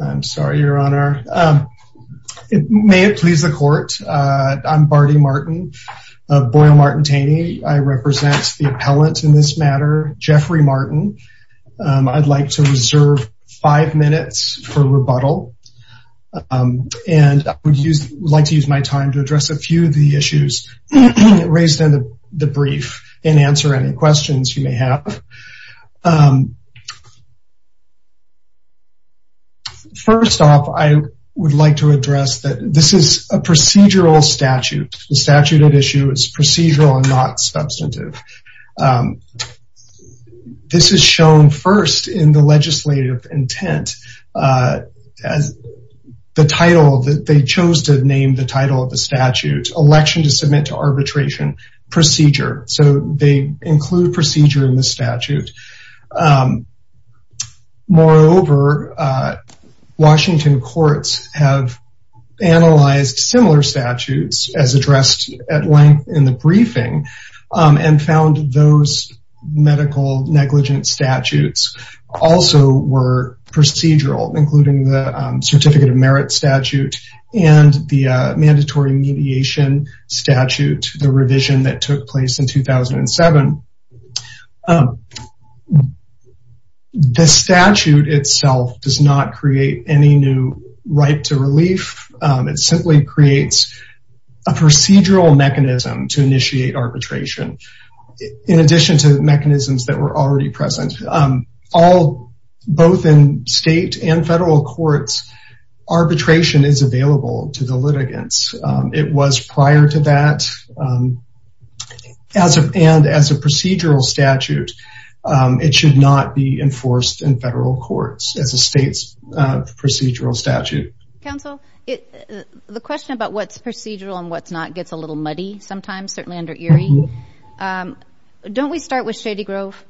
I'm sorry, your honor. May it please the court. I'm Barty Martin of Boyle-Martin-Taney. I represent the appellant in this matter, Jeffrey Martin. I'd like to reserve five minutes for rebuttal and I would like to use my time to address a few of the questions you may have. First off, I would like to address that this is a procedural statute. The statute at issue is procedural and not substantive. This is shown first in the legislative intent as the title that they chose to name the title of the statute, Election to Submit to Arbitration Procedure. So they include procedure in the statute. Moreover, Washington courts have analyzed similar statutes as addressed at length in the briefing and found those medical negligence statutes also were procedural, including the certificate of merit statute and the mandatory mediation statute, the revision that took place in 2007. The statute itself does not create any new right to relief. It simply creates a procedural mechanism to initiate arbitration. In addition to the mechanisms that were already present, both in state and federal courts, arbitration is available to the litigants. It was prior to that. And as a procedural statute, it should not be enforced in federal courts as a state's procedural statute. Counsel, the question about what's procedural and what's not gets a little muddy sometimes, certainly under Erie. Don't we start with Shady Grove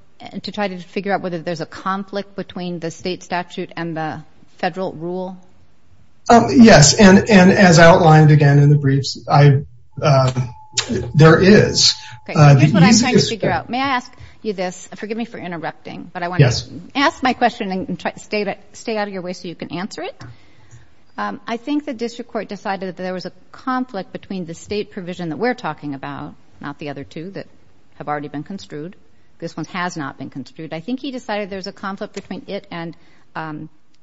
to try to figure out whether there's a conflict between the state statute and the federal rule? Yes. And as outlined again in the briefs, there is. May I ask you this? Forgive me for interrupting, but I want to ask my question and try to stay out of your way so you can answer it. I think the district court decided that there was a conflict between the state provision that we're talking about, not the other two that have already been construed. This one has not been construed. I think he decided there's a conflict between it and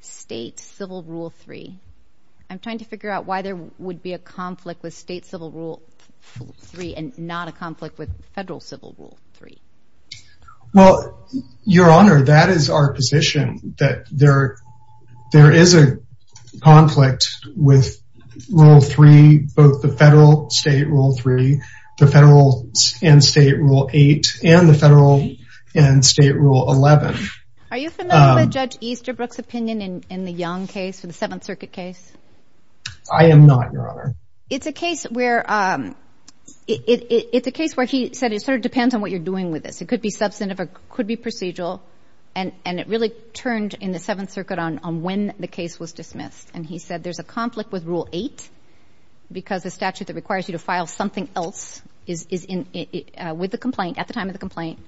state civil rule three. I'm trying to figure out why there would be a conflict with state civil rule three and not a conflict with federal civil rule three. Well, Your Honor, that is our position that there is a conflict with rule three, both the federal state rule three, the federal and state rule eight, and the federal and state rule 11. Are you familiar with Judge Easterbrook's opinion in the Young case for the Seventh Circuit case? I am not, Your Honor. It's a case where he said it sort of depends on what you're doing with this. It could be substantive, it could be procedural. And it really turned in the Seventh Circuit on when the case was dismissed. And he said there's a conflict with rule eight because the statute that requires you to file something else at the time of the complaint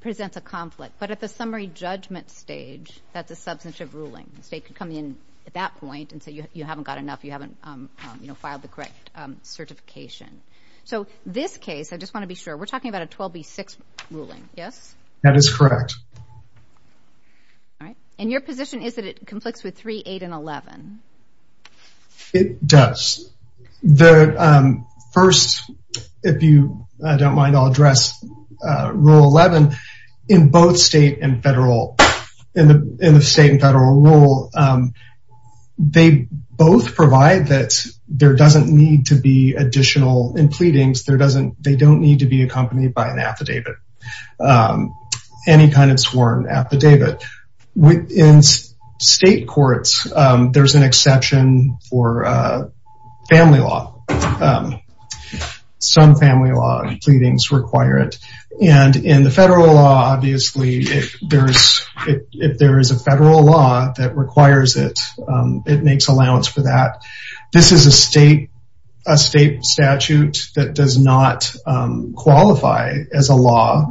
presents a conflict. But at the summary judgment stage, that's a substantive ruling. The state could come in at that point and say you haven't got enough, you haven't filed the correct certification. So this case, I just want to be sure, we're talking about a 12B6 ruling, yes? That is correct. And your position is that it conflicts with three, eight, and 11? It does. The first, if you don't mind, I'll address rule 11. In both state and federal, in the state and federal rule, they both provide that there doesn't need to be additional in pleadings. They don't need to be accompanied by an affidavit, any kind of sworn affidavit. In state courts, there's an exception for family law. Some family law pleadings require it. And in the federal law, obviously, if there is a federal law that requires it, it makes allowance for that. This is a rule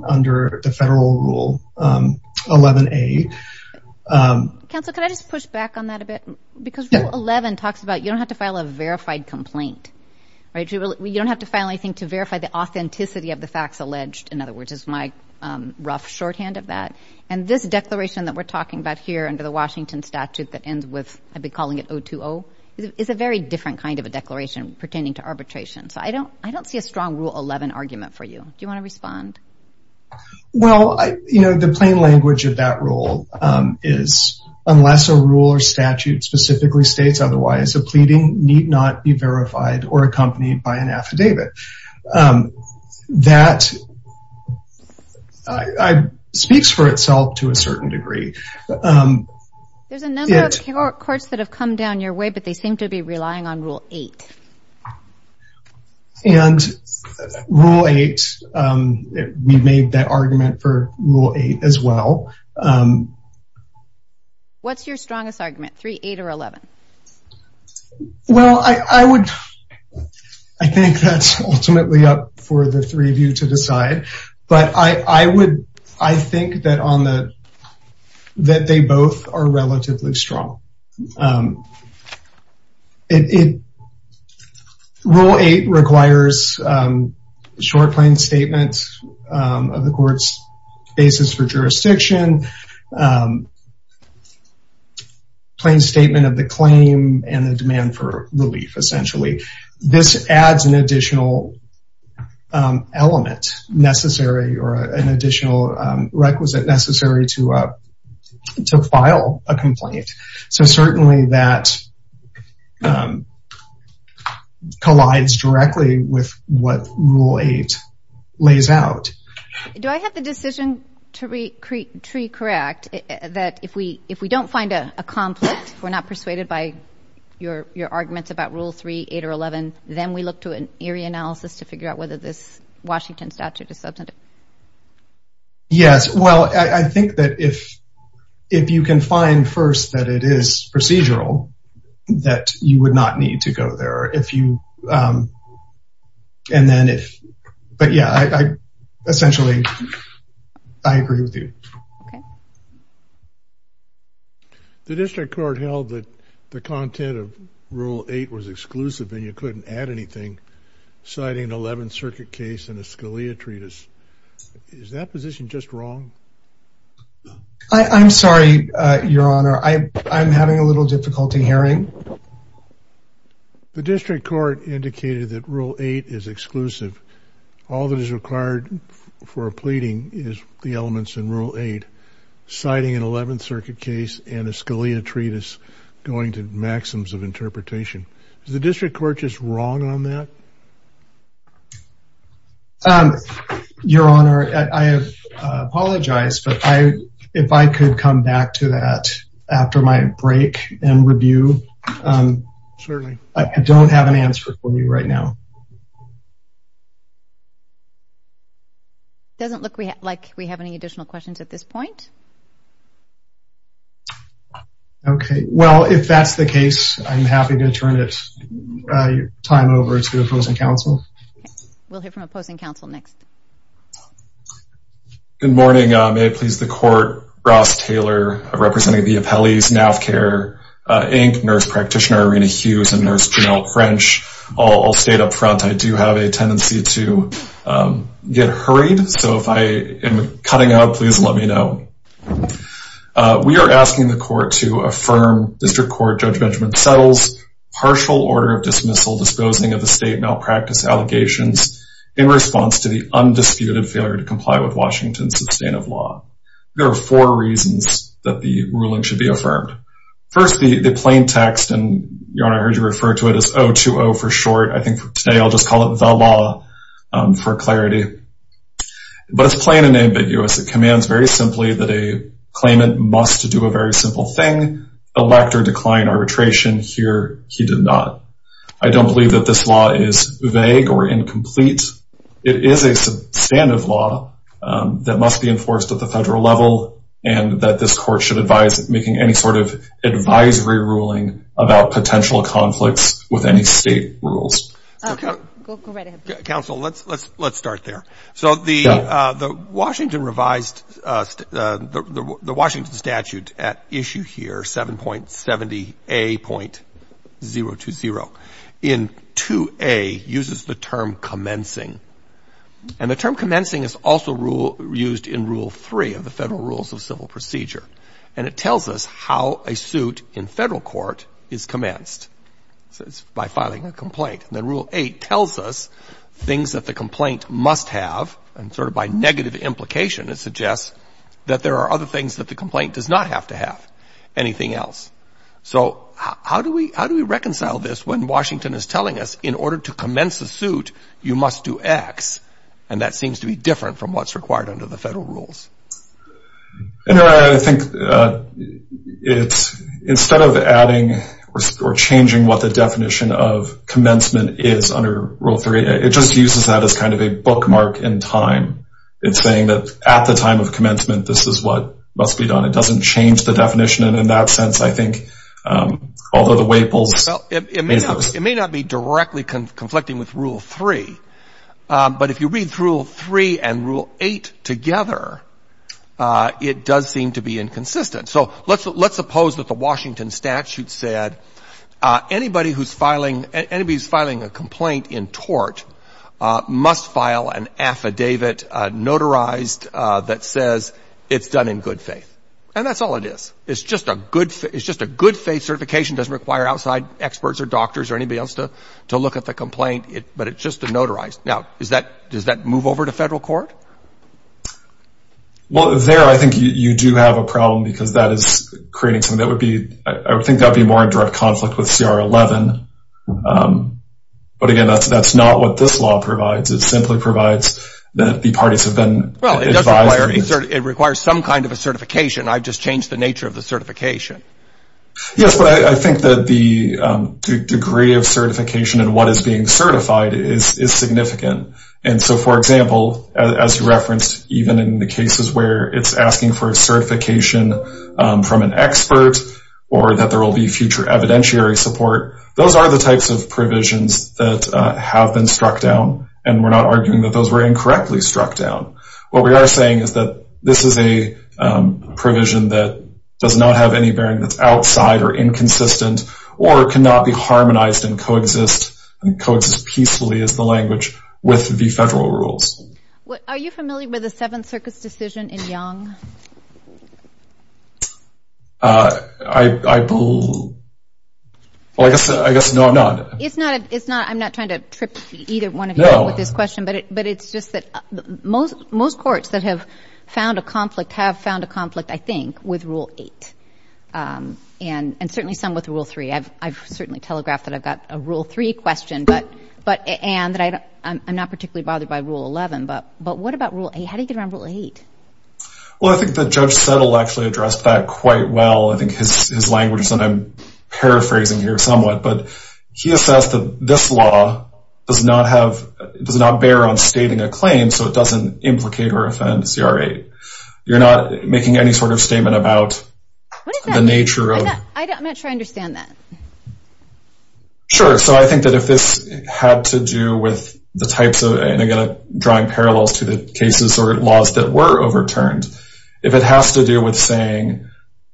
under the federal rule 11A. Counsel, can I just push back on that a bit? Because rule 11 talks about you don't have to file a verified complaint, right? You don't have to file anything to verify the authenticity of the facts alleged, in other words, is my rough shorthand of that. And this declaration that we're talking about here under the Washington statute that ends with, I'd be calling it 020, is a very different kind of a declaration pertaining to arbitration. So I don't see a strong rule 11 argument for you. Do you want to respond? Well, you know, the plain language of that rule is, unless a rule or statute specifically states otherwise, a pleading need not be verified or accompanied by an affidavit. That speaks for itself to a certain degree. There's a number of courts that have come down your way, but they seem to be relying on Rule 8. And Rule 8, we've made that argument for Rule 8 as well. What's your strongest argument, 3, 8, or 11? Well, I would, I think that's ultimately up for the three of you to decide. But I would, I think that on the, that they both are relatively strong. Rule 8 requires short, plain statement of the court's basis for jurisdiction, plain statement of the claim and the demand for relief, essentially. This adds an additional element necessary or an additional requisite necessary to file a plea. So certainly that collides directly with what Rule 8 lays out. Do I have the decision to be correct that if we don't find a conflict, we're not persuaded by your arguments about Rule 3, 8, or 11, then we look to an area analysis to figure out whether this Washington statute is substantive? Yes. Well, I think that if, if you can find first that it is procedural, that you would not need to go there if you, and then if, but yeah, I essentially, I agree with you. The district court held that the content of Rule 8 was exclusive and you couldn't add anything, citing an 11th circuit case and a Scalia treatise. Is that position just wrong? I'm sorry, your honor. I'm having a little difficulty hearing. The district court indicated that Rule 8 is exclusive. All that is required for a pleading is the elements in Rule 8, citing an 11th circuit case and a Scalia treatise. Is that position just wrong on that? Your honor, I apologize, but if I could come back to that after my break and review, I don't have an answer for you right now. Doesn't look like we have any additional questions at this point. Okay. Well, if that's the case, I'm happy to turn it, uh, time over to opposing counsel. We'll hear from opposing counsel next. Good morning. May it please the court. Ross Taylor, representing the appellees, NAVCAR, Inc., nurse practitioner, Rena Hughes, and nurse Janelle French. All state up front, I do have a tendency to, um, get hurried. So if I am cutting up, please let me know. Uh, we are asking the court to affirm district court Judge Benjamin Settle's partial order of dismissal disposing of the state malpractice allegations in response to the undisputed failure to comply with Washington's sustainable law. There are four reasons that the ruling should be affirmed. First, the plain text and your honor, I heard you refer to it as 020 for short. I think today I'll just call it the law, um, for clarity, but it's plain and ambiguous. It commands very simply that a claimant must do a very simple thing, elect or decline arbitration. Here, he did not. I don't believe that this law is vague or incomplete. It is a substantive law, um, that must be enforced at the federal level and that this court should advise making any sort of advisory ruling about potential conflicts with any state rules. Okay, council. Let's, let's, let's start there. So the, uh, the Washington revised, uh, the Washington statute at issue here, 7.70 a.020 in two a uses the term commencing and the term commencing is also rule used in rule three of the federal rules of civil procedure. And it tells us how a suit in federal court is rule eight tells us things that the complaint must have and sort of by negative implication, it suggests that there are other things that the complaint does not have to have anything else. So how do we, how do we reconcile this when Washington is telling us in order to commence the suit, you must do X. And that seems to be different from what's required under the federal rules. And I think, uh, it's instead of adding or changing what the definition of is under rule three, it just uses that as kind of a bookmark in time. It's saying that at the time of commencement, this is what must be done. It doesn't change the definition. And in that sense, I think, um, although the way polls, it may, it may not be directly conflicting with rule three. Um, but if you read through three and rule eight together, uh, it does seem to be inconsistent. So let's, let's suppose that the Washington statute said, uh, anybody who's filing, anybody who's filing a complaint in tort, uh, must file an affidavit, uh, notarized, uh, that says it's done in good faith. And that's all it is. It's just a good, it's just a good faith certification doesn't require outside experts or doctors or anybody else to, to look at the complaint, but it's just a notarized. Now, is that, does that move over to federal court? Well, there, I think you do have a problem because that is creating some, that would be, I think that'd be more in direct conflict with CR 11. Um, but again, that's, that's not what this law provides. It simply provides that the parties have been, well, it requires some kind of a certification. I've just changed the nature of the certification. Yes. But I think that the, um, degree of certification and what is being certified is, is significant. And so for example, as you referenced, even in the cases where it's asking for a or that there will be future evidentiary support, those are the types of provisions that have been struck down. And we're not arguing that those were incorrectly struck down. What we are saying is that this is a, um, provision that does not have any bearing that's outside or inconsistent or cannot be harmonized and coexist and coexist peacefully as the language with the federal rules. Are you familiar with the Seventh Circus decision in Young? Uh, I, I pull, well, I guess, I guess, no, I'm not. It's not, it's not, I'm not trying to trip either one of you with this question, but it, but it's just that most, most courts that have found a conflict have found a conflict, I think, with Rule 8. Um, and, and certainly some with Rule 3. I've, I've certainly telegraphed that I've got a Rule 3 question, but, but, and that I, I'm not particularly bothered by Rule 11, but, but what about Rule 8? How do you get around Rule 8? Well, I think that Judge Settle actually addressed that quite well. I think his, his language is, and I'm paraphrasing here somewhat, but he assessed that this law does not have, does not bear on stating a claim, so it doesn't implicate or offend CR 8. You're not making any sort of statement about the nature of. I'm not sure I understand that. Sure. So I think that if this had to do with the types of, and again, drawing parallels to the cases or laws that were overturned, if it has to do with saying,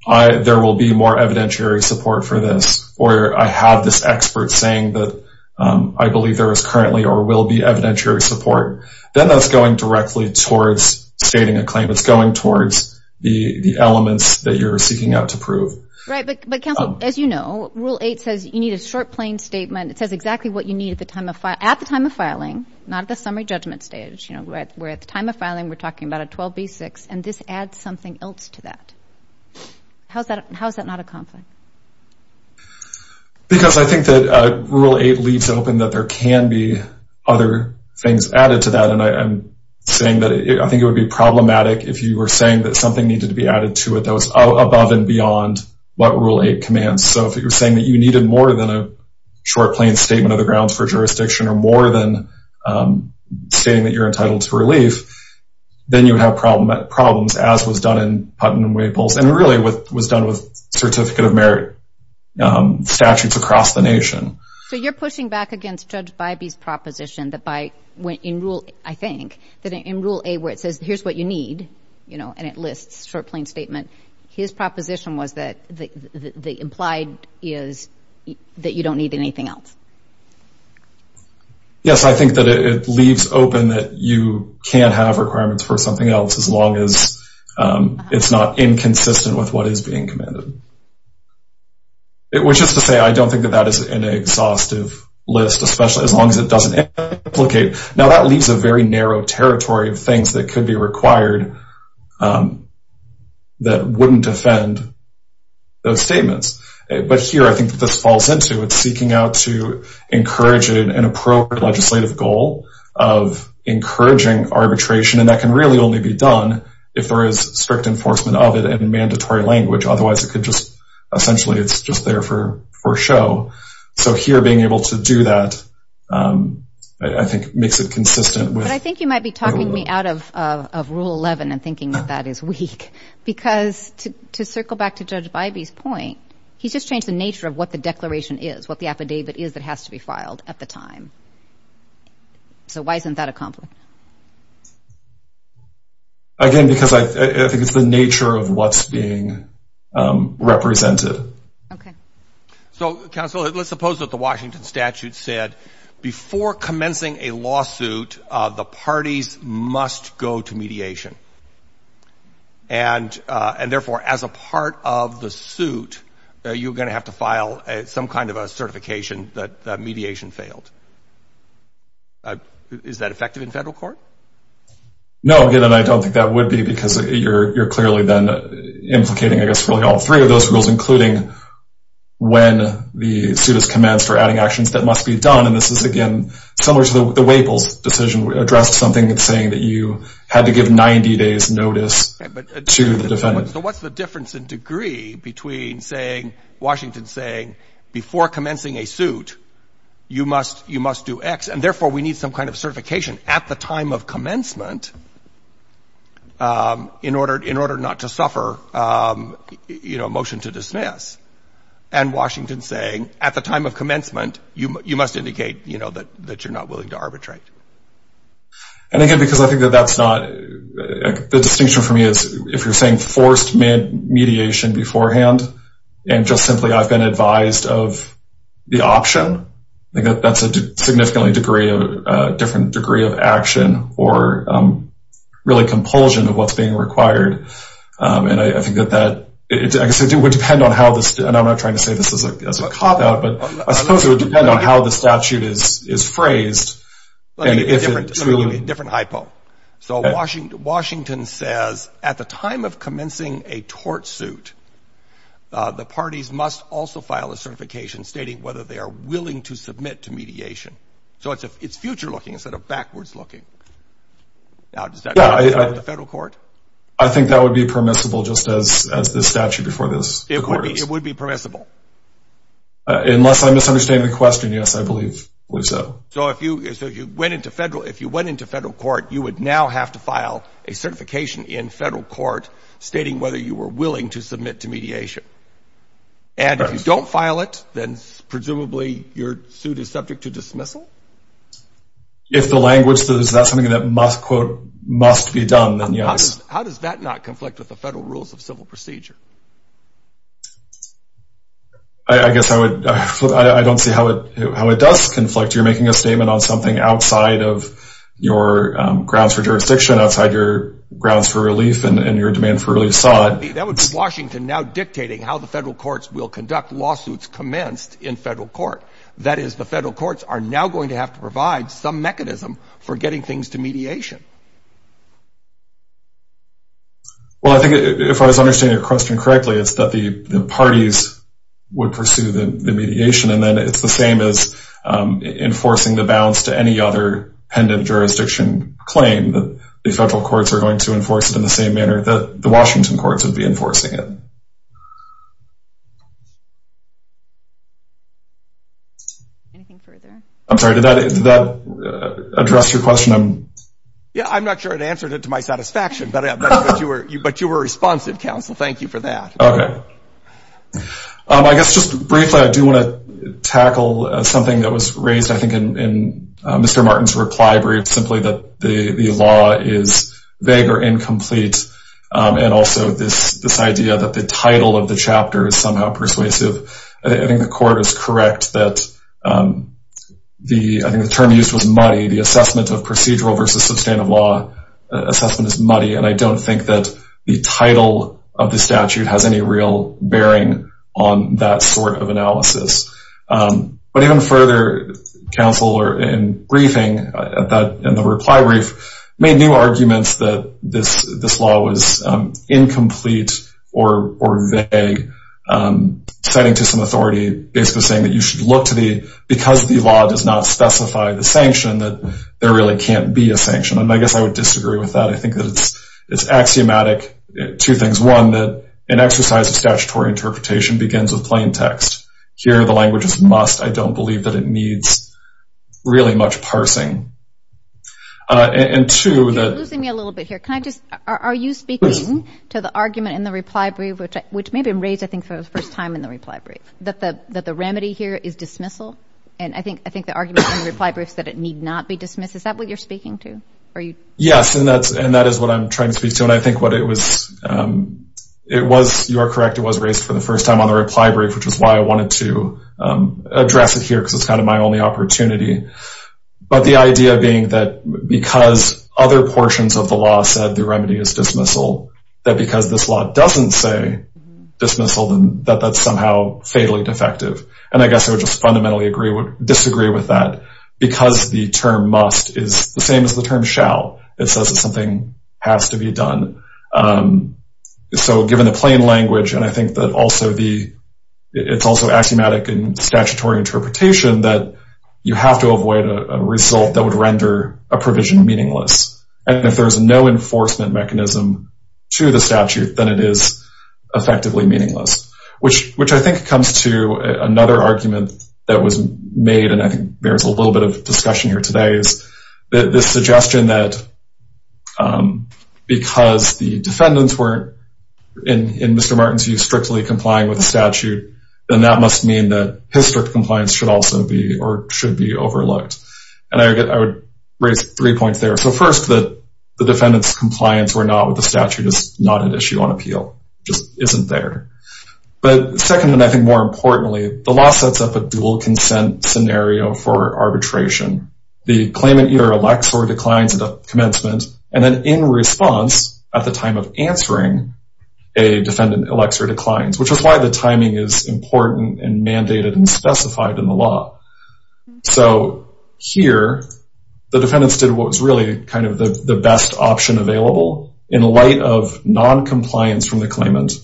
I, there will be more evidentiary support for this, or I have this expert saying that, um, I believe there is currently or will be evidentiary support, then that's going directly towards stating a claim. It's going towards the, the elements that you're seeking out to prove. Right. But, but counsel, as you know, Rule 8 says you need a short, plain statement. It says exactly what you need at the time of file, at the time of you know, we're at the time of filing, we're talking about a 12B6, and this adds something else to that. How's that, how's that not a conflict? Because I think that Rule 8 leaves open that there can be other things added to that. And I'm saying that I think it would be problematic if you were saying that something needed to be added to it that was above and beyond what Rule 8 commands. So if you're saying that you needed more than a short, plain statement of the grounds for jurisdiction or more than stating that you're entitled to relief, then you would have problems, as was done in Putnam-Waples and really what was done with Certificate of Merit statutes across the nation. So you're pushing back against Judge Bybee's proposition that by, in Rule, I think, that in Rule 8 where it says, here's what you need, you know, and it lists short, plain statement, his proposition was that the implied is that you don't need anything else. Yes, I think that it leaves open that you can't have requirements for something else as long as it's not inconsistent with what is being commanded. Which is to say, I don't think that that is an exhaustive list, especially as long as it doesn't implicate. Now that leaves a very narrow territory of things that could be required that wouldn't defend those statements. But here, I think this falls into, it's seeking out to encourage an appropriate legislative goal of encouraging arbitration. And that can really only be done if there is strict enforcement of it in mandatory language. Otherwise, it could just, essentially, it's just there for show. So here, being able to do that, I think, makes it consistent with... But I think you might be talking me out of Rule 11 and thinking that that is weak. Because to circle back to Judge Bybee's point, he's just changed the nature of what the declaration is, what the affidavit is that has to be filed at the time. So why isn't that a conflict? Again, because I think it's the nature of what's being represented. Okay. So, counsel, let's suppose that the Washington statute said, before commencing a lawsuit, the parties must go to mediation. And therefore, as a part of the some kind of a certification, that mediation failed. Is that effective in federal court? No, again, I don't think that would be because you're clearly then implicating, I guess, really all three of those rules, including when the suit is commenced or adding actions that must be done. And this is, again, similar to the Waples decision, addressed something that's saying that you had to give 90 days notice to the defendant. So what's the difference in degree between saying, Washington saying, before commencing a suit, you must do X. And therefore, we need some kind of certification at the time of commencement, in order not to suffer, you know, a motion to dismiss. And Washington saying, at the time of commencement, you must indicate, you know, that you're not willing to arbitrate. And again, because I think that that's not, the distinction for me is, if you're saying forced mediation beforehand, and just simply, I've been advised of the option, I think that's a significantly different degree of action, or really compulsion of what's being required. And I think that that, it would depend on how this, and I'm not trying to say this as a cop out, but I suppose it would depend on how the statute is phrased. Let me give you a different hypo. So Washington says, at the time of commencing a tort suit, the parties must also file a certification stating whether they are willing to submit to mediation. So it's future looking instead of backwards looking. Now, does that apply to the federal court? I think that would be permissible just as the statute before this. It would be permissible. Unless I misunderstand the question. Yes, I believe so. So if you went into federal, if you went into federal court, you would now have to file a certification in federal court stating whether you were willing to submit to mediation. And if you don't file it, then presumably your suit is subject to dismissal? If the language says that's something that must, quote, must be done, then yes. How does that not conflict with the federal rules of civil procedure? I guess I would, I don't see how it, how it does conflict. You're making a statement on something outside of your grounds for jurisdiction, outside your grounds for relief and your demand for relief side. That would be Washington now dictating how the federal courts will conduct lawsuits commenced in federal court. That is, the federal courts are now going to have to provide some mechanism for getting things to mediation. Well, I think if I was understanding your question correctly, it's that the parties would pursue the mediation. And then it's the same as enforcing the bounds to any other pendant jurisdiction claim that the federal courts are going to enforce it in the same manner that the Washington courts would be enforcing it. Anything further? I'm sorry, did that address your question? Yeah, I'm not sure it answered it to my satisfaction, but you were responsive, counsel. Thank you for that. Okay. I guess just briefly, I do want to tackle something that was raised, I think, in Mr. Martin's reply brief, simply that the law is vague or incomplete. And also this idea that the title of the chapter is somehow persuasive. I think the court is correct that the, I think the term used was muddy, the procedural versus substantive law assessment is muddy. And I don't think that the title of the statute has any real bearing on that sort of analysis. But even further, counsel in briefing, in the reply brief, made new arguments that this law was incomplete or vague, citing to some authority, basically saying that you should look to the, because the law does not specify the sanction, that there really can't be a sanction. And I guess I would disagree with that. I think that it's axiomatic, two things. One, that an exercise of statutory interpretation begins with plain text. Here, the language is must. I don't believe that it needs really much parsing. And two, that... You're losing me a little bit here. Can I just, are you speaking to the argument in the reply brief, which may have been raised, I think, for the first time in the reply brief, that the remedy here is dismissal, that it should not be dismissed. Is that what you're speaking to? Yes, and that is what I'm trying to speak to. And I think what it was, it was, you are correct, it was raised for the first time on the reply brief, which is why I wanted to address it here, because it's kind of my only opportunity. But the idea being that because other portions of the law said the remedy is dismissal, that because this law doesn't say dismissal, that that's somehow fatally defective. And I guess I would just fundamentally disagree with that. Because the term must is the same as the term shall, it says that something has to be done. So given the plain language, and I think that also the, it's also axiomatic in statutory interpretation that you have to avoid a result that would render a provision meaningless. And if there is no enforcement mechanism to the statute, then it is effectively meaningless, which I think comes to another argument that was made, and I think bears a little bit of discussion here today, is this suggestion that because the defendants weren't, in Mr. Martin's view, strictly complying with the statute, then that must mean that his strict compliance should also be or should be overlooked. And I would raise three points there. So first, that the defendant's compliance or not with the statute is not an issue on appeal, just isn't there. But second, and I think more importantly, the law sets up a dual consent scenario for arbitration. The claimant either elects or declines at a commencement, and then in response, at the time of answering, a defendant elects or declines, which is why the timing is important and mandated and specified in the law. So here, the defendants did what was really kind of the best option available in light of non-compliance from the claimant,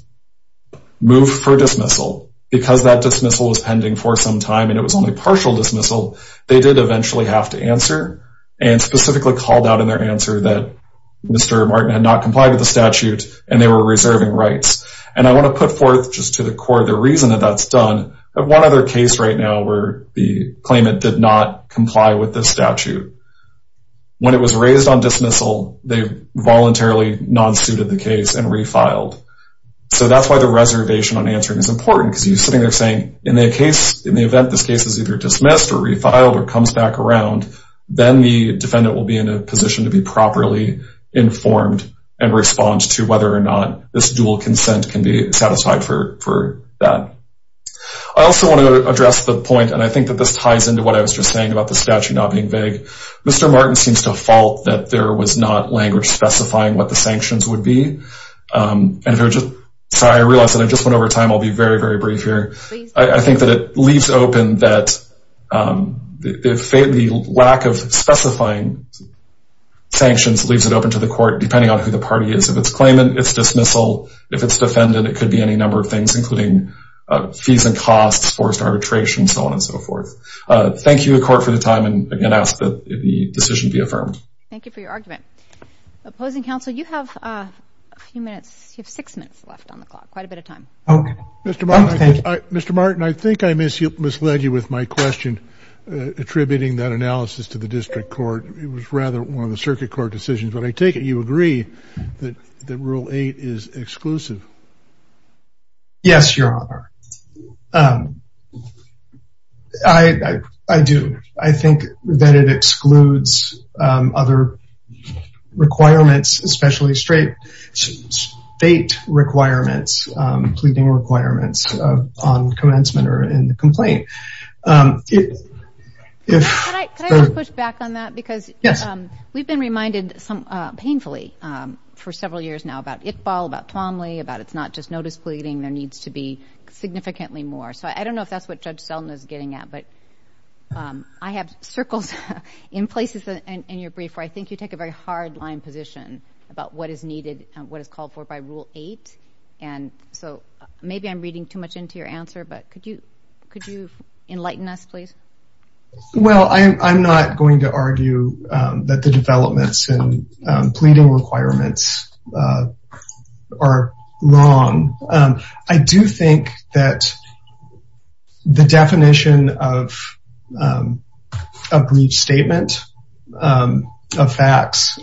move for dismissal, because that dismissal was pending for some time and it was only partial dismissal, they did eventually have to answer and specifically called out in their answer that Mr. Martin had not complied with the statute and they were reserving rights. And I want to put forth just to the court the reason that that's done. I have one other case right now where the claimant did not comply with the statute. When it was raised on dismissal, they voluntarily non-suited the case and refiled. So that's why the reservation on answering is important because you sitting there saying in the case, in the event this case is either dismissed or refiled or comes back around, then the defendant will be in a position to be properly informed and respond to whether or not this dual consent can be satisfied for that. I also want to address the point, and I think that this ties into what I was just saying about the statute not being vague. Mr. Martin seems to fault that there was not language specifying what the sanctions would be. And so I realize that I just went over time. I'll be very, very brief here. I think that it leaves open that the lack of specifying sanctions leaves it open to the court, depending on who the party is. If it's claimant, it's dismissal. If it's defendant, it could be any number of things, including fees and costs, forced arbitration, so on and so forth. Thank you, the court, for the time. And again, I ask that the decision be affirmed. Thank you for your argument. Opposing counsel, you have a few minutes, you have six minutes left on the clock, quite a bit of time. Mr. Martin, Mr. Martin, I think I misled you with my question attributing that analysis to the district court. It was rather one of the circuit court decisions. Yes, Your Honor. I do. I think that it excludes other requirements, especially state requirements, pleading requirements on commencement or in the complaint. Can I just push back on that? Because we've been reminded painfully for several years now about Iqbal, about Tuomly, about it's not just notice pleading. There needs to be significantly more. So I don't know if that's what Judge Seldin is getting at. But I have circles in places in your brief where I think you take a very hard line position about what is needed and what is called for by Rule 8. And so maybe I'm reading too much into your answer, but could you enlighten us, please? Well, I'm not going to argue that the developments in pleading requirements are wrong. I do think that the definition of a brief statement of facts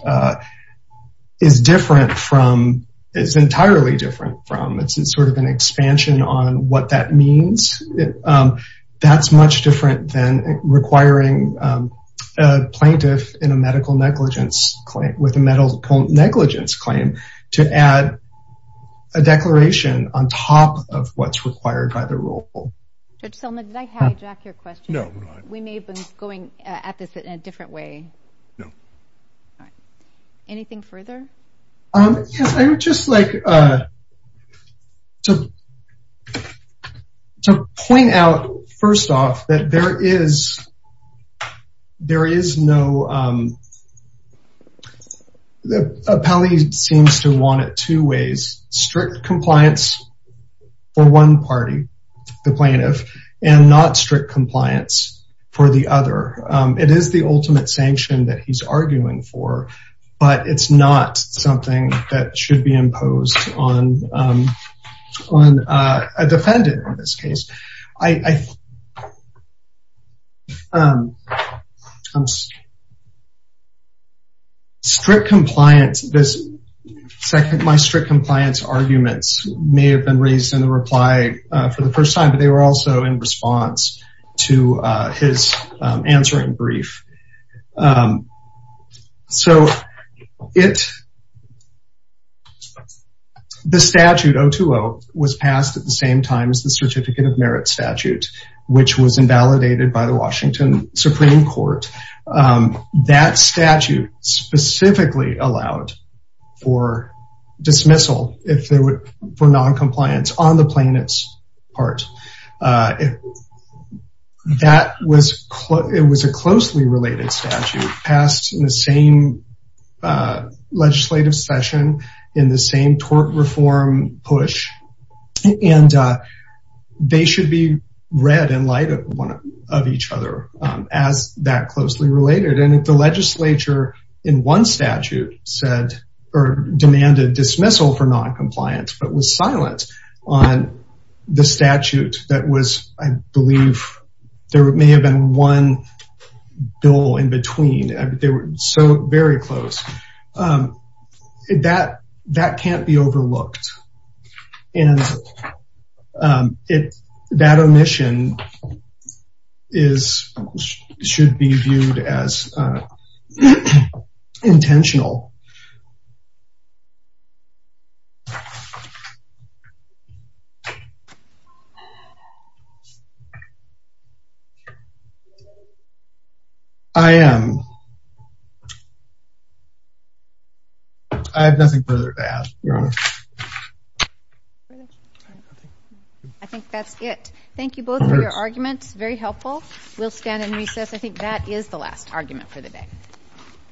is different from, it's entirely different from, it's sort of an expansion on what that means. That's much different than requiring a plaintiff in a medical negligence claim, with a declaration on top of what's required by the rule. Judge Seldin, did I hijack your question? No, you did not. We may have been going at this in a different way. No. Anything further? Yes, I would just like to point out, first off, that there is no, appellee seems to want it in two ways, strict compliance for one party, the plaintiff, and not strict compliance for the other. It is the ultimate sanction that he's arguing for, but it's not something that should be imposed on a defendant in this case. I, strict compliance, this second, my strict compliance arguments may have been raised in the reply for the first time, but they were also in response to his answering brief. So, the statute 020 was passed at the same time as the Certificate of Merit statute, which was invalidated by the Washington Supreme Court. That statute specifically allowed for dismissal, if there were, for noncompliance on the plaintiff's part. It was a closely related statute passed in the same legislative session, in the same tort reform push, and they should be read in light of each other as that closely related. And if the legislature in one statute said, or demanded dismissal for noncompliance, but was the statute that was, I believe, there may have been one bill in between, they were so very close, that can't be overlooked. And that omission should be viewed as intentional. I am, I have nothing further to add, Your Honor. I think that's it. Thank you both for your arguments. Very helpful. We'll stand and recess. I think that is the last argument for the day.